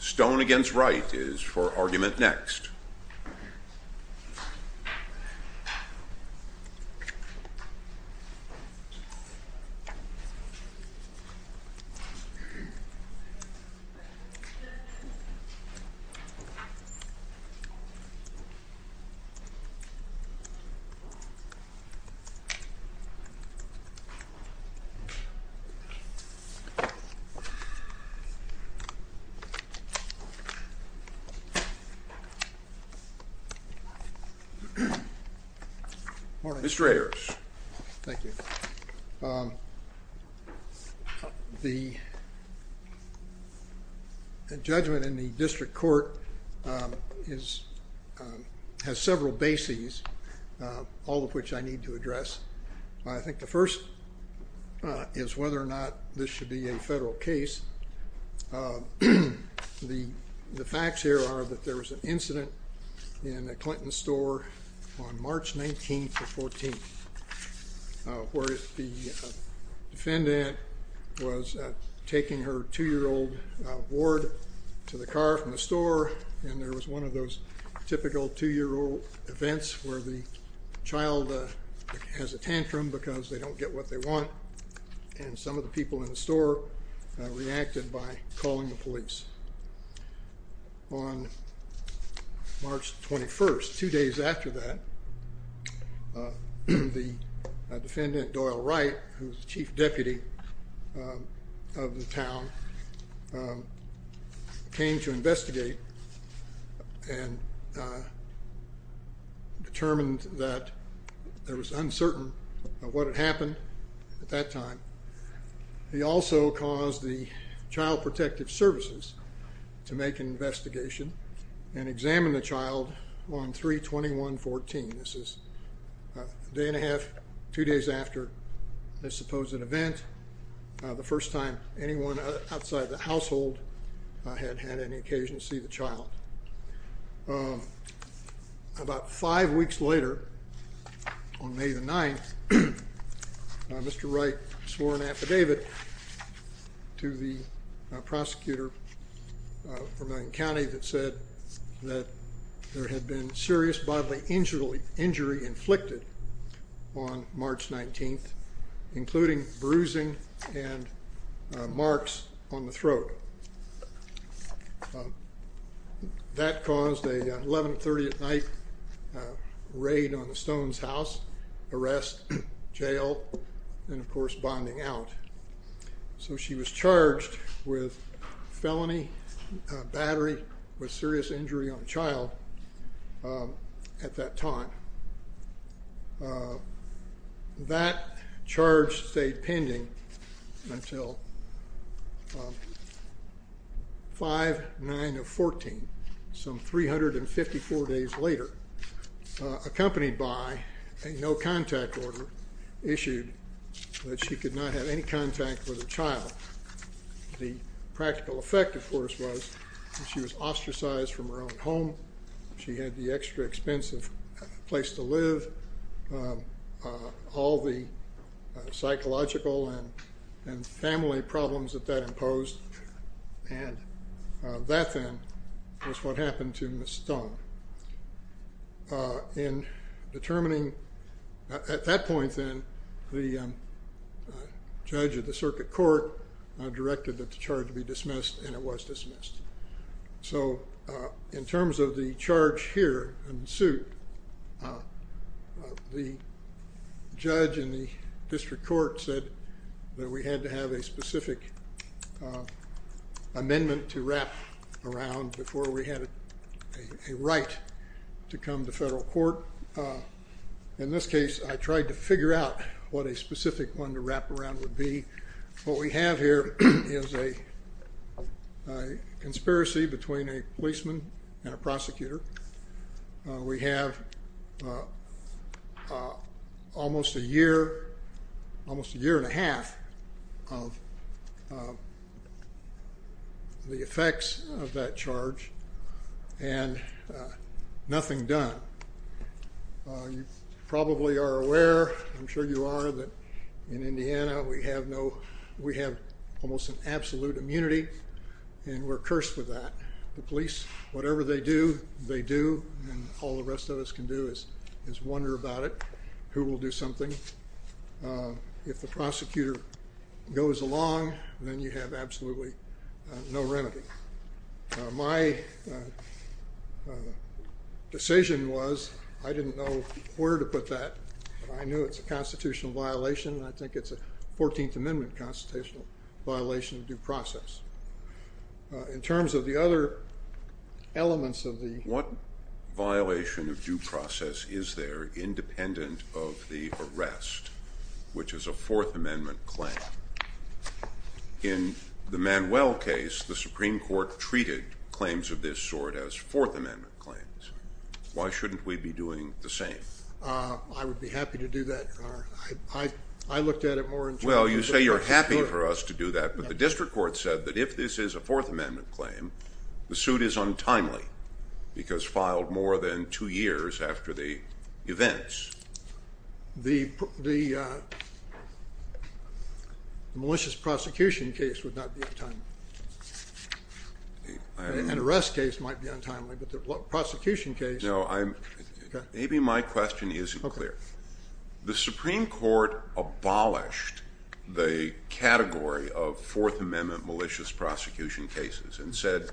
Stone v. Wright is for argument next. The judgment in the district court has several bases, all of which I need to address. I think the first is whether or not this should be a federal case. The facts here are that there was an incident in a Clinton store on March 19th or 14th where the defendant was taking her two-year-old ward to the car from the store and there was one of those typical two-year-old events where the child has a tantrum because they don't get what they want and some of the people in the store reacted by calling the police. On March 21st, two days after that, the defendant, Doyle Wright, who is the chief deputy of the and determined that it was uncertain what had happened at that time. He also caused the Child Protective Services to make an investigation and examine the child on 3-21-14. This is a day and a half, two days after this supposed event, the first time anyone outside the household had had any occasion to see the child. About five weeks later, on May 9th, Mr. Wright swore an affidavit to the prosecutor of Vermilion County that said that there had been serious bodily injury inflicted on March 19th, including bruising and marks on the throat. That caused an 11-30-at-night raid on the Stones' house, arrest, jail, and of course bonding out. So she was charged with felony battery with serious injury on a child at that time. That charge stayed pending until 5-9-14, some 354 days later, accompanied by a no-contact order issued that she could not have any contact with her child. The practical effect, of course, was that she was ostracized from her own home, she had the extra expensive place to live, all the psychological and family problems that that imposed, and that then was what happened to Ms. Stone. In determining, at that point then, the judge of the circuit court directed that the charge be dismissed, and it was dismissed. So in terms of the charge here in suit, the judge in the district court said that we had to have a specific amendment to wrap around before we had a right to come to federal court. In this case, I tried to figure out what a specific one to wrap around would be. What we have here is a conspiracy between a policeman and a prosecutor. We have almost a year, almost a year and a half of the effects of that charge, and nothing done. You probably are aware, I'm sure you are, that in Indiana we have no, we have almost an absolute immunity, and we're cursed with that. The police, whatever they do, they do, and all the rest of us can do is wonder about it, who will do something. If the prosecutor goes along, then you have absolutely no remedy. My decision was, I didn't know where to put that, but I knew it's a constitutional violation, and I think it's a 14th Amendment constitutional violation of due process. In terms of the other elements of the... What violation of due process is there independent of the arrest, which is a Fourth Amendment claim? In the Manuel case, the Supreme Court treated claims of this sort as Fourth Amendment claims. Why shouldn't we be doing the same? I would be happy to do that, Your Honor. I looked at it more in terms of... Well, you say you're happy for us to do that, but the district court said that if this is a Fourth Amendment claim, the suit is untimely, because filed more than two years after the events. In that case, the malicious prosecution case would not be untimely. An arrest case might be untimely, but the prosecution case... No, maybe my question isn't clear. The Supreme Court abolished the category of Fourth Amendment malicious prosecution cases and said,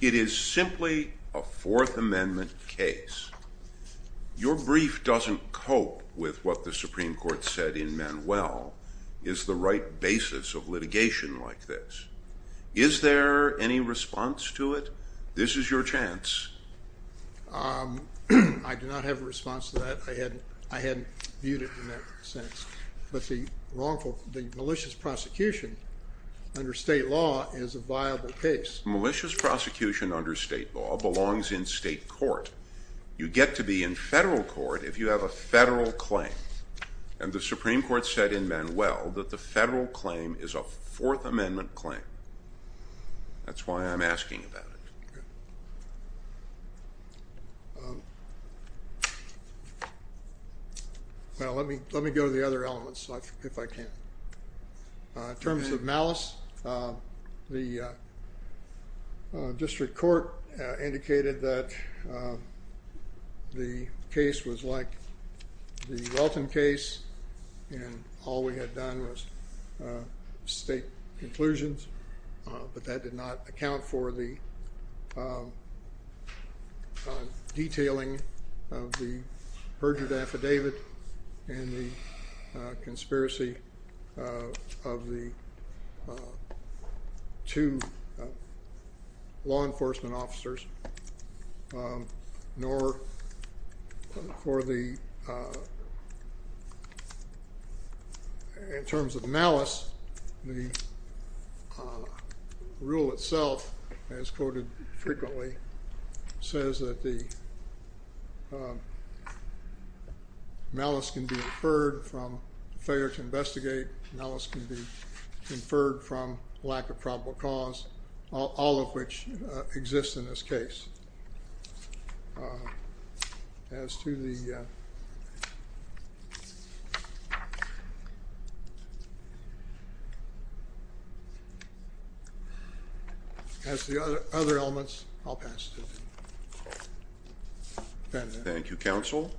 it is simply a Fourth Amendment case. Your brief doesn't cope with what the Supreme Court said in Manuel is the right basis of litigation like this. Is there any response to it? This is your chance. I do not have a response to that. I hadn't viewed it in that sense, but the wrongful... The malicious prosecution under state law is a viable case. Malicious prosecution under state law belongs in state court. You get to be in federal court if you have a federal claim, and the Supreme Court said in Manuel that the federal claim is a Fourth Amendment claim. That's why I'm asking about it. Well, let me go to the other elements if I can. In terms of malice, the district court indicated that the case was like the Welton case and all we had done was state conclusions, but that did not account for the detailing of the perjured affidavit and the conspiracy of the two law enforcement officers, nor for the... In terms of malice, the rule itself, as quoted frequently, says that the malice can be inferred from failure to investigate, malice can be inferred from lack of probable cause, all of which exist in this case. As to the... As to the other elements, I'll pass it to you. Thank you, counsel.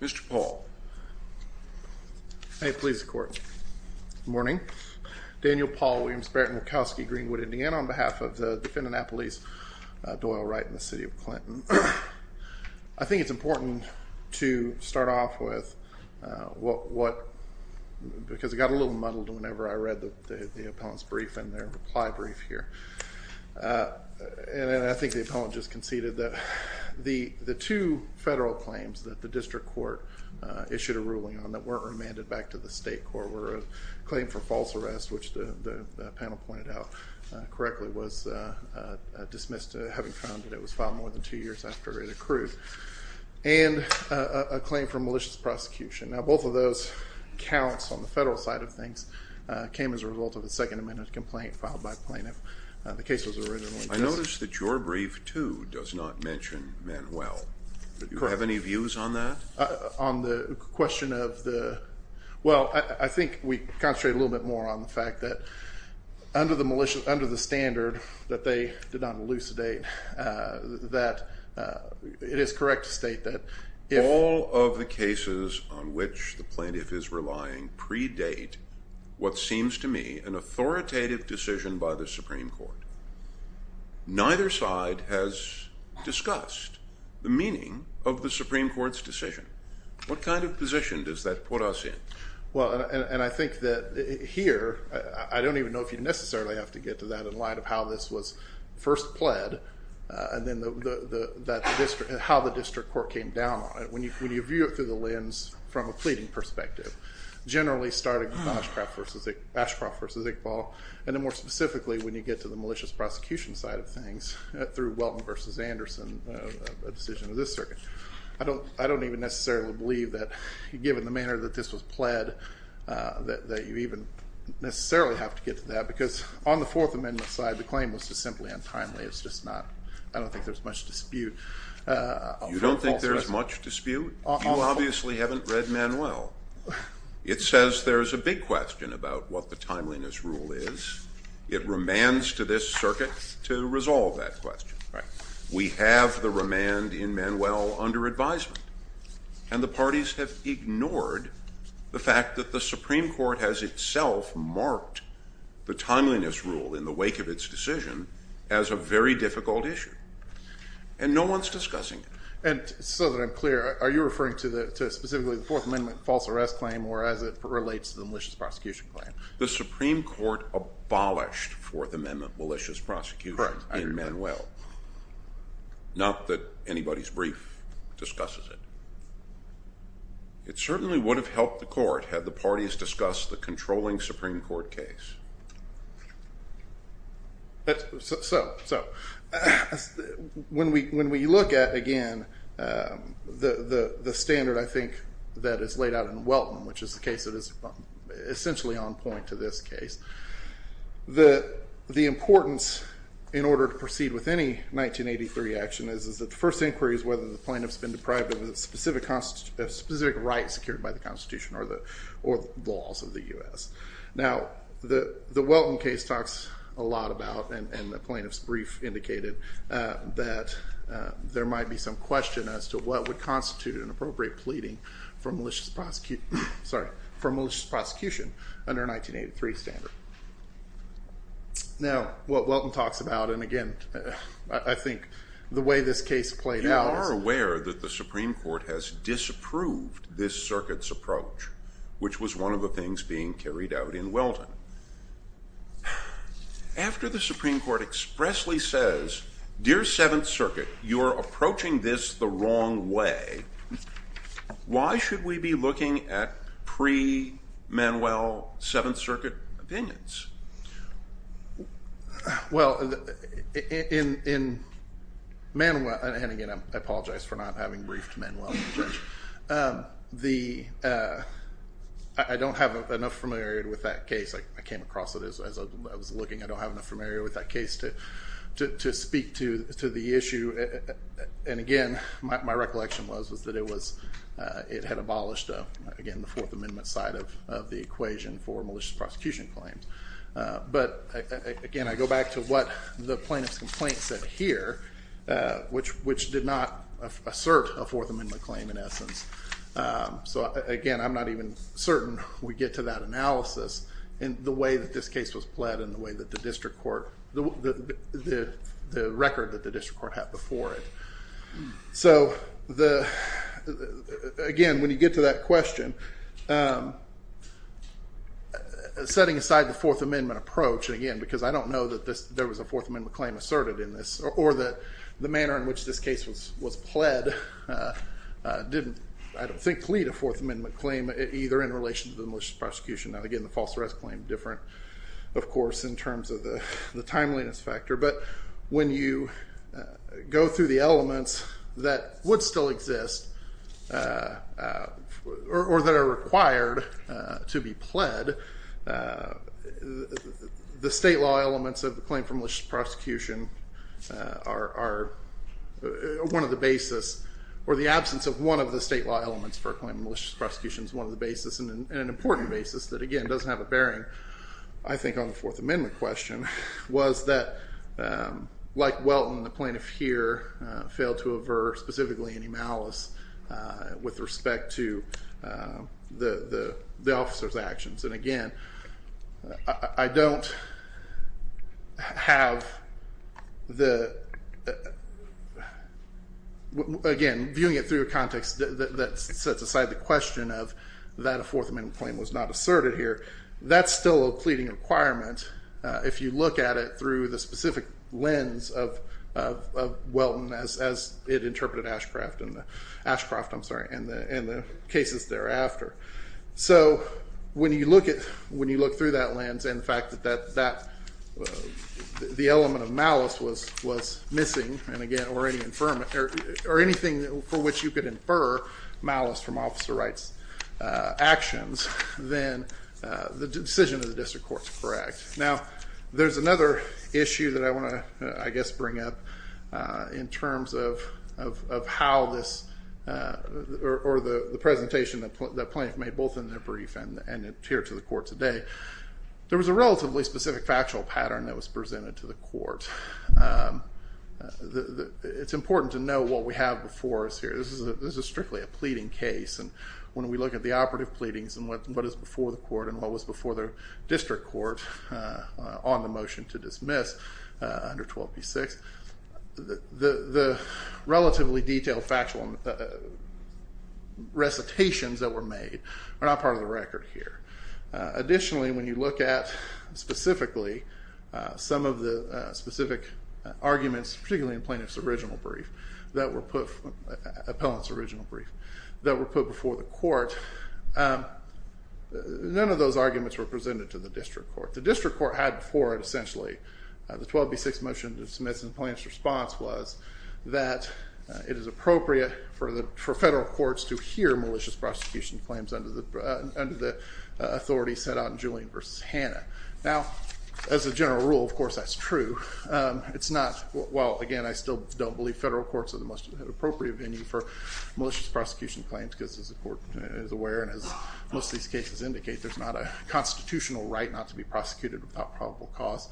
Mr. Paul. May it please the court. Good morning. Daniel Paul, William Sparrett, Murkowski, Greenwood, Indiana, on behalf of the defendant at police, Doyle Wright, in the city of Clinton. I think it's important to start off with what... And I think the appellant just conceded that the two federal claims that the district court issued a ruling on that weren't remanded back to the state court were a claim for false arrest, which the panel pointed out correctly was dismissed having found that it was filed more than two years after it accrued, and a claim for malicious prosecution. Now, both of those counts on the federal side of things came as a result of a Second Amendment complaint filed by plaintiff. The case was originally... I noticed that your brief, too, does not mention Manuel. Correct. Do you have any views on that? On the question of the... Well, I think we concentrate a little bit more on the fact that under the standard that they did not elucidate, that it is correct to state that if... The circumstances on which the plaintiff is relying predate what seems to me an authoritative decision by the Supreme Court. Neither side has discussed the meaning of the Supreme Court's decision. What kind of position does that put us in? Well, and I think that here, I don't even know if you necessarily have to get to that in light of how this was first pled, and then how the district court came down on it. When you view it through the lens from a pleading perspective, generally starting with Ashcroft versus Iqbal, and then more specifically, when you get to the malicious prosecution side of things, through Welton versus Anderson, a decision of this circuit. I don't even necessarily believe that, given the manner that this was pled, that you even necessarily have to get to that, because on the Fourth Amendment side, the claim was just simply untimely. It's just not... I don't think there's much dispute. You don't think there's much dispute? You obviously haven't read Manuel. It says there's a big question about what the timeliness rule is. It remands to this circuit to resolve that question. We have the remand in Manuel under advisement. And the parties have ignored the fact that the Supreme Court has itself marked the timeliness rule in the wake of its decision as a very difficult issue. And no one's discussing it. And so that I'm clear, are you referring to specifically the Fourth Amendment false arrest claim, or as it relates to the malicious prosecution claim? The Supreme Court abolished Fourth Amendment malicious prosecution in Manuel. Not that anybody's brief discusses it. It certainly would have helped the court had the parties discussed the controlling Supreme Court case. So, when we look at, again, the standard I think that is laid out in Welton, which is the case that is essentially on point to this case, the importance in order to proceed with any 1983 action is that the first inquiry is whether the plaintiff's been deprived of a specific right secured by the Constitution or the laws of the U.S. Now, the Welton case talks a lot about, and the plaintiff's brief indicated, that there might be some question as to what would constitute an appropriate pleading for malicious prosecution under a 1983 standard. Now, what Welton talks about, and again, I think the way this case played out is- You are aware that the Supreme Court has disapproved this circuit's approach, which was one of the things being carried out in Welton. After the Supreme Court expressly says, Dear Seventh Circuit, you are approaching this the wrong way, why should we be looking at pre-Manuel Seventh Circuit opinions? Well, in Manuel- And again, I apologize for not having briefed Manuel. I don't have enough familiarity with that case. I came across it as I was looking. I don't have enough familiarity with that case to speak to the issue. And again, my recollection was that it was- It had abolished, again, the Fourth Amendment side of the equation for malicious prosecution claims. But again, I go back to what the plaintiff's complaint said here, which did not assert a Fourth Amendment claim in essence. So again, I'm not even certain we get to that analysis in the way that this case was played and the way that the district court- The record that the district court had before it. So, again, when you get to that question, setting aside the Fourth Amendment approach, again, because I don't know that there was a Fourth Amendment claim asserted in this, or that the manner in which this case was pled didn't, I don't think, plead a Fourth Amendment claim, either in relation to the malicious prosecution. Now, again, the false arrest claim different, of course, in terms of the timeliness factor. But when you go through the elements that would still exist, or that are required to be pled, the state law elements of the claim for malicious prosecution are one of the basis, or the absence of one of the state law elements for a claim of malicious prosecution is one of the basis, and an important basis that, again, doesn't have a bearing, I think, on the Fourth Amendment question, was that, like Welton, the plaintiff here failed to aver specifically any malice with respect to the officer's actions. And again, I don't have the, again, viewing it through a context that sets aside the question of that a Fourth Amendment claim was not asserted here, that's still a pleading requirement, if you look at it through the specific lens of Welton, as it interpreted Ashcroft in the cases thereafter. So, when you look through that lens, and the fact that the element of malice was missing, or anything for which you could infer malice from officer rights actions, then the decision of the district court is correct. Now, there's another issue that I want to, I guess, bring up in terms of how this, or the presentation that the plaintiff made, both in their brief and here to the court today. There was a relatively specific factual pattern that was presented to the court. It's important to know what we have before us here. This is strictly a pleading case, and when we look at the operative pleadings, and what is before the court, and what was before the district court on the motion to dismiss under 12b-6, the relatively detailed factual recitations that were made are not part of the record here. Additionally, when you look at specifically some of the specific arguments, particularly in the plaintiff's original brief, that were put, appellant's original brief, that were put before the court, none of those arguments were presented to the district court. The district court had before it, essentially, the 12b-6 motion to dismiss, and the plaintiff's response was that it is appropriate for federal courts to hear malicious prosecution claims under the authority set out in Julian v. Hanna. Now, as a general rule, of course that's true. It's not, well, again, I still don't believe federal courts are the most appropriate venue for malicious prosecution claims, because as the court is aware, and as most of these cases indicate, there's not a constitutional right not to be prosecuted without probable cause.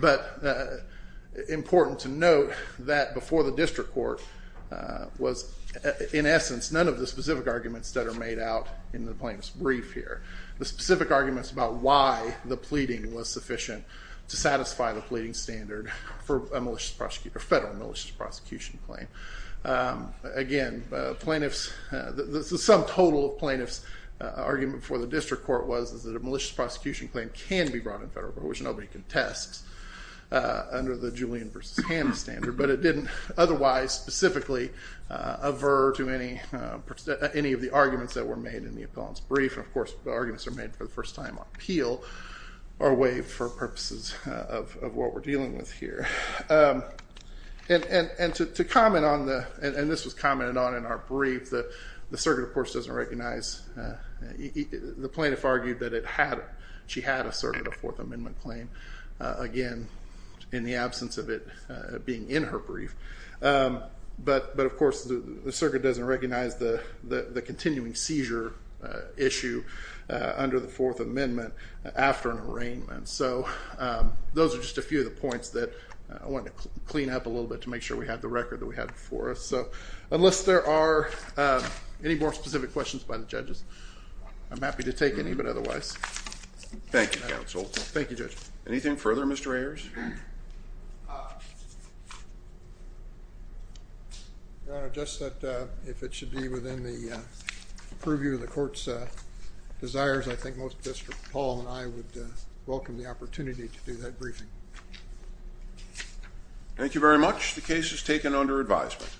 But important to note that before the district court was, in essence, none of the specific arguments that are made out in the plaintiff's brief here. The specific arguments about why the pleading was sufficient to satisfy the pleading standard for a federal malicious prosecution claim. Again, plaintiff's, the sum total of plaintiff's argument before the district court was that a malicious prosecution claim can be brought in federal which nobody contests under the Julian v. Hanna standard, but it didn't otherwise specifically aver to any of the arguments that were made in the appellant's brief, and of course, the arguments that were made for the first time on appeal are waived for purposes of what we're dealing with here. And to comment on the, and this was commented on in our brief, the circuit of course doesn't recognize, the plaintiff argued that it had she had asserted a Fourth Amendment claim. Again, in the absence of it being in her brief. But of course, the circuit doesn't recognize the continuing seizure issue under the Fourth Amendment after an arraignment. So, those are just a few of the points that I want to clean up a little bit to make sure we have the record that we have before us. So, unless there are any more specific questions by the judges, I'm Thank you, counsel. Thank you, judge. Anything further, Mr. Ayers? Your Honor, just that if it should be within the purview of the court's desires, I think most district, Paul and I would welcome the opportunity to do that briefing. Thank you very much. The case is taken under advisement.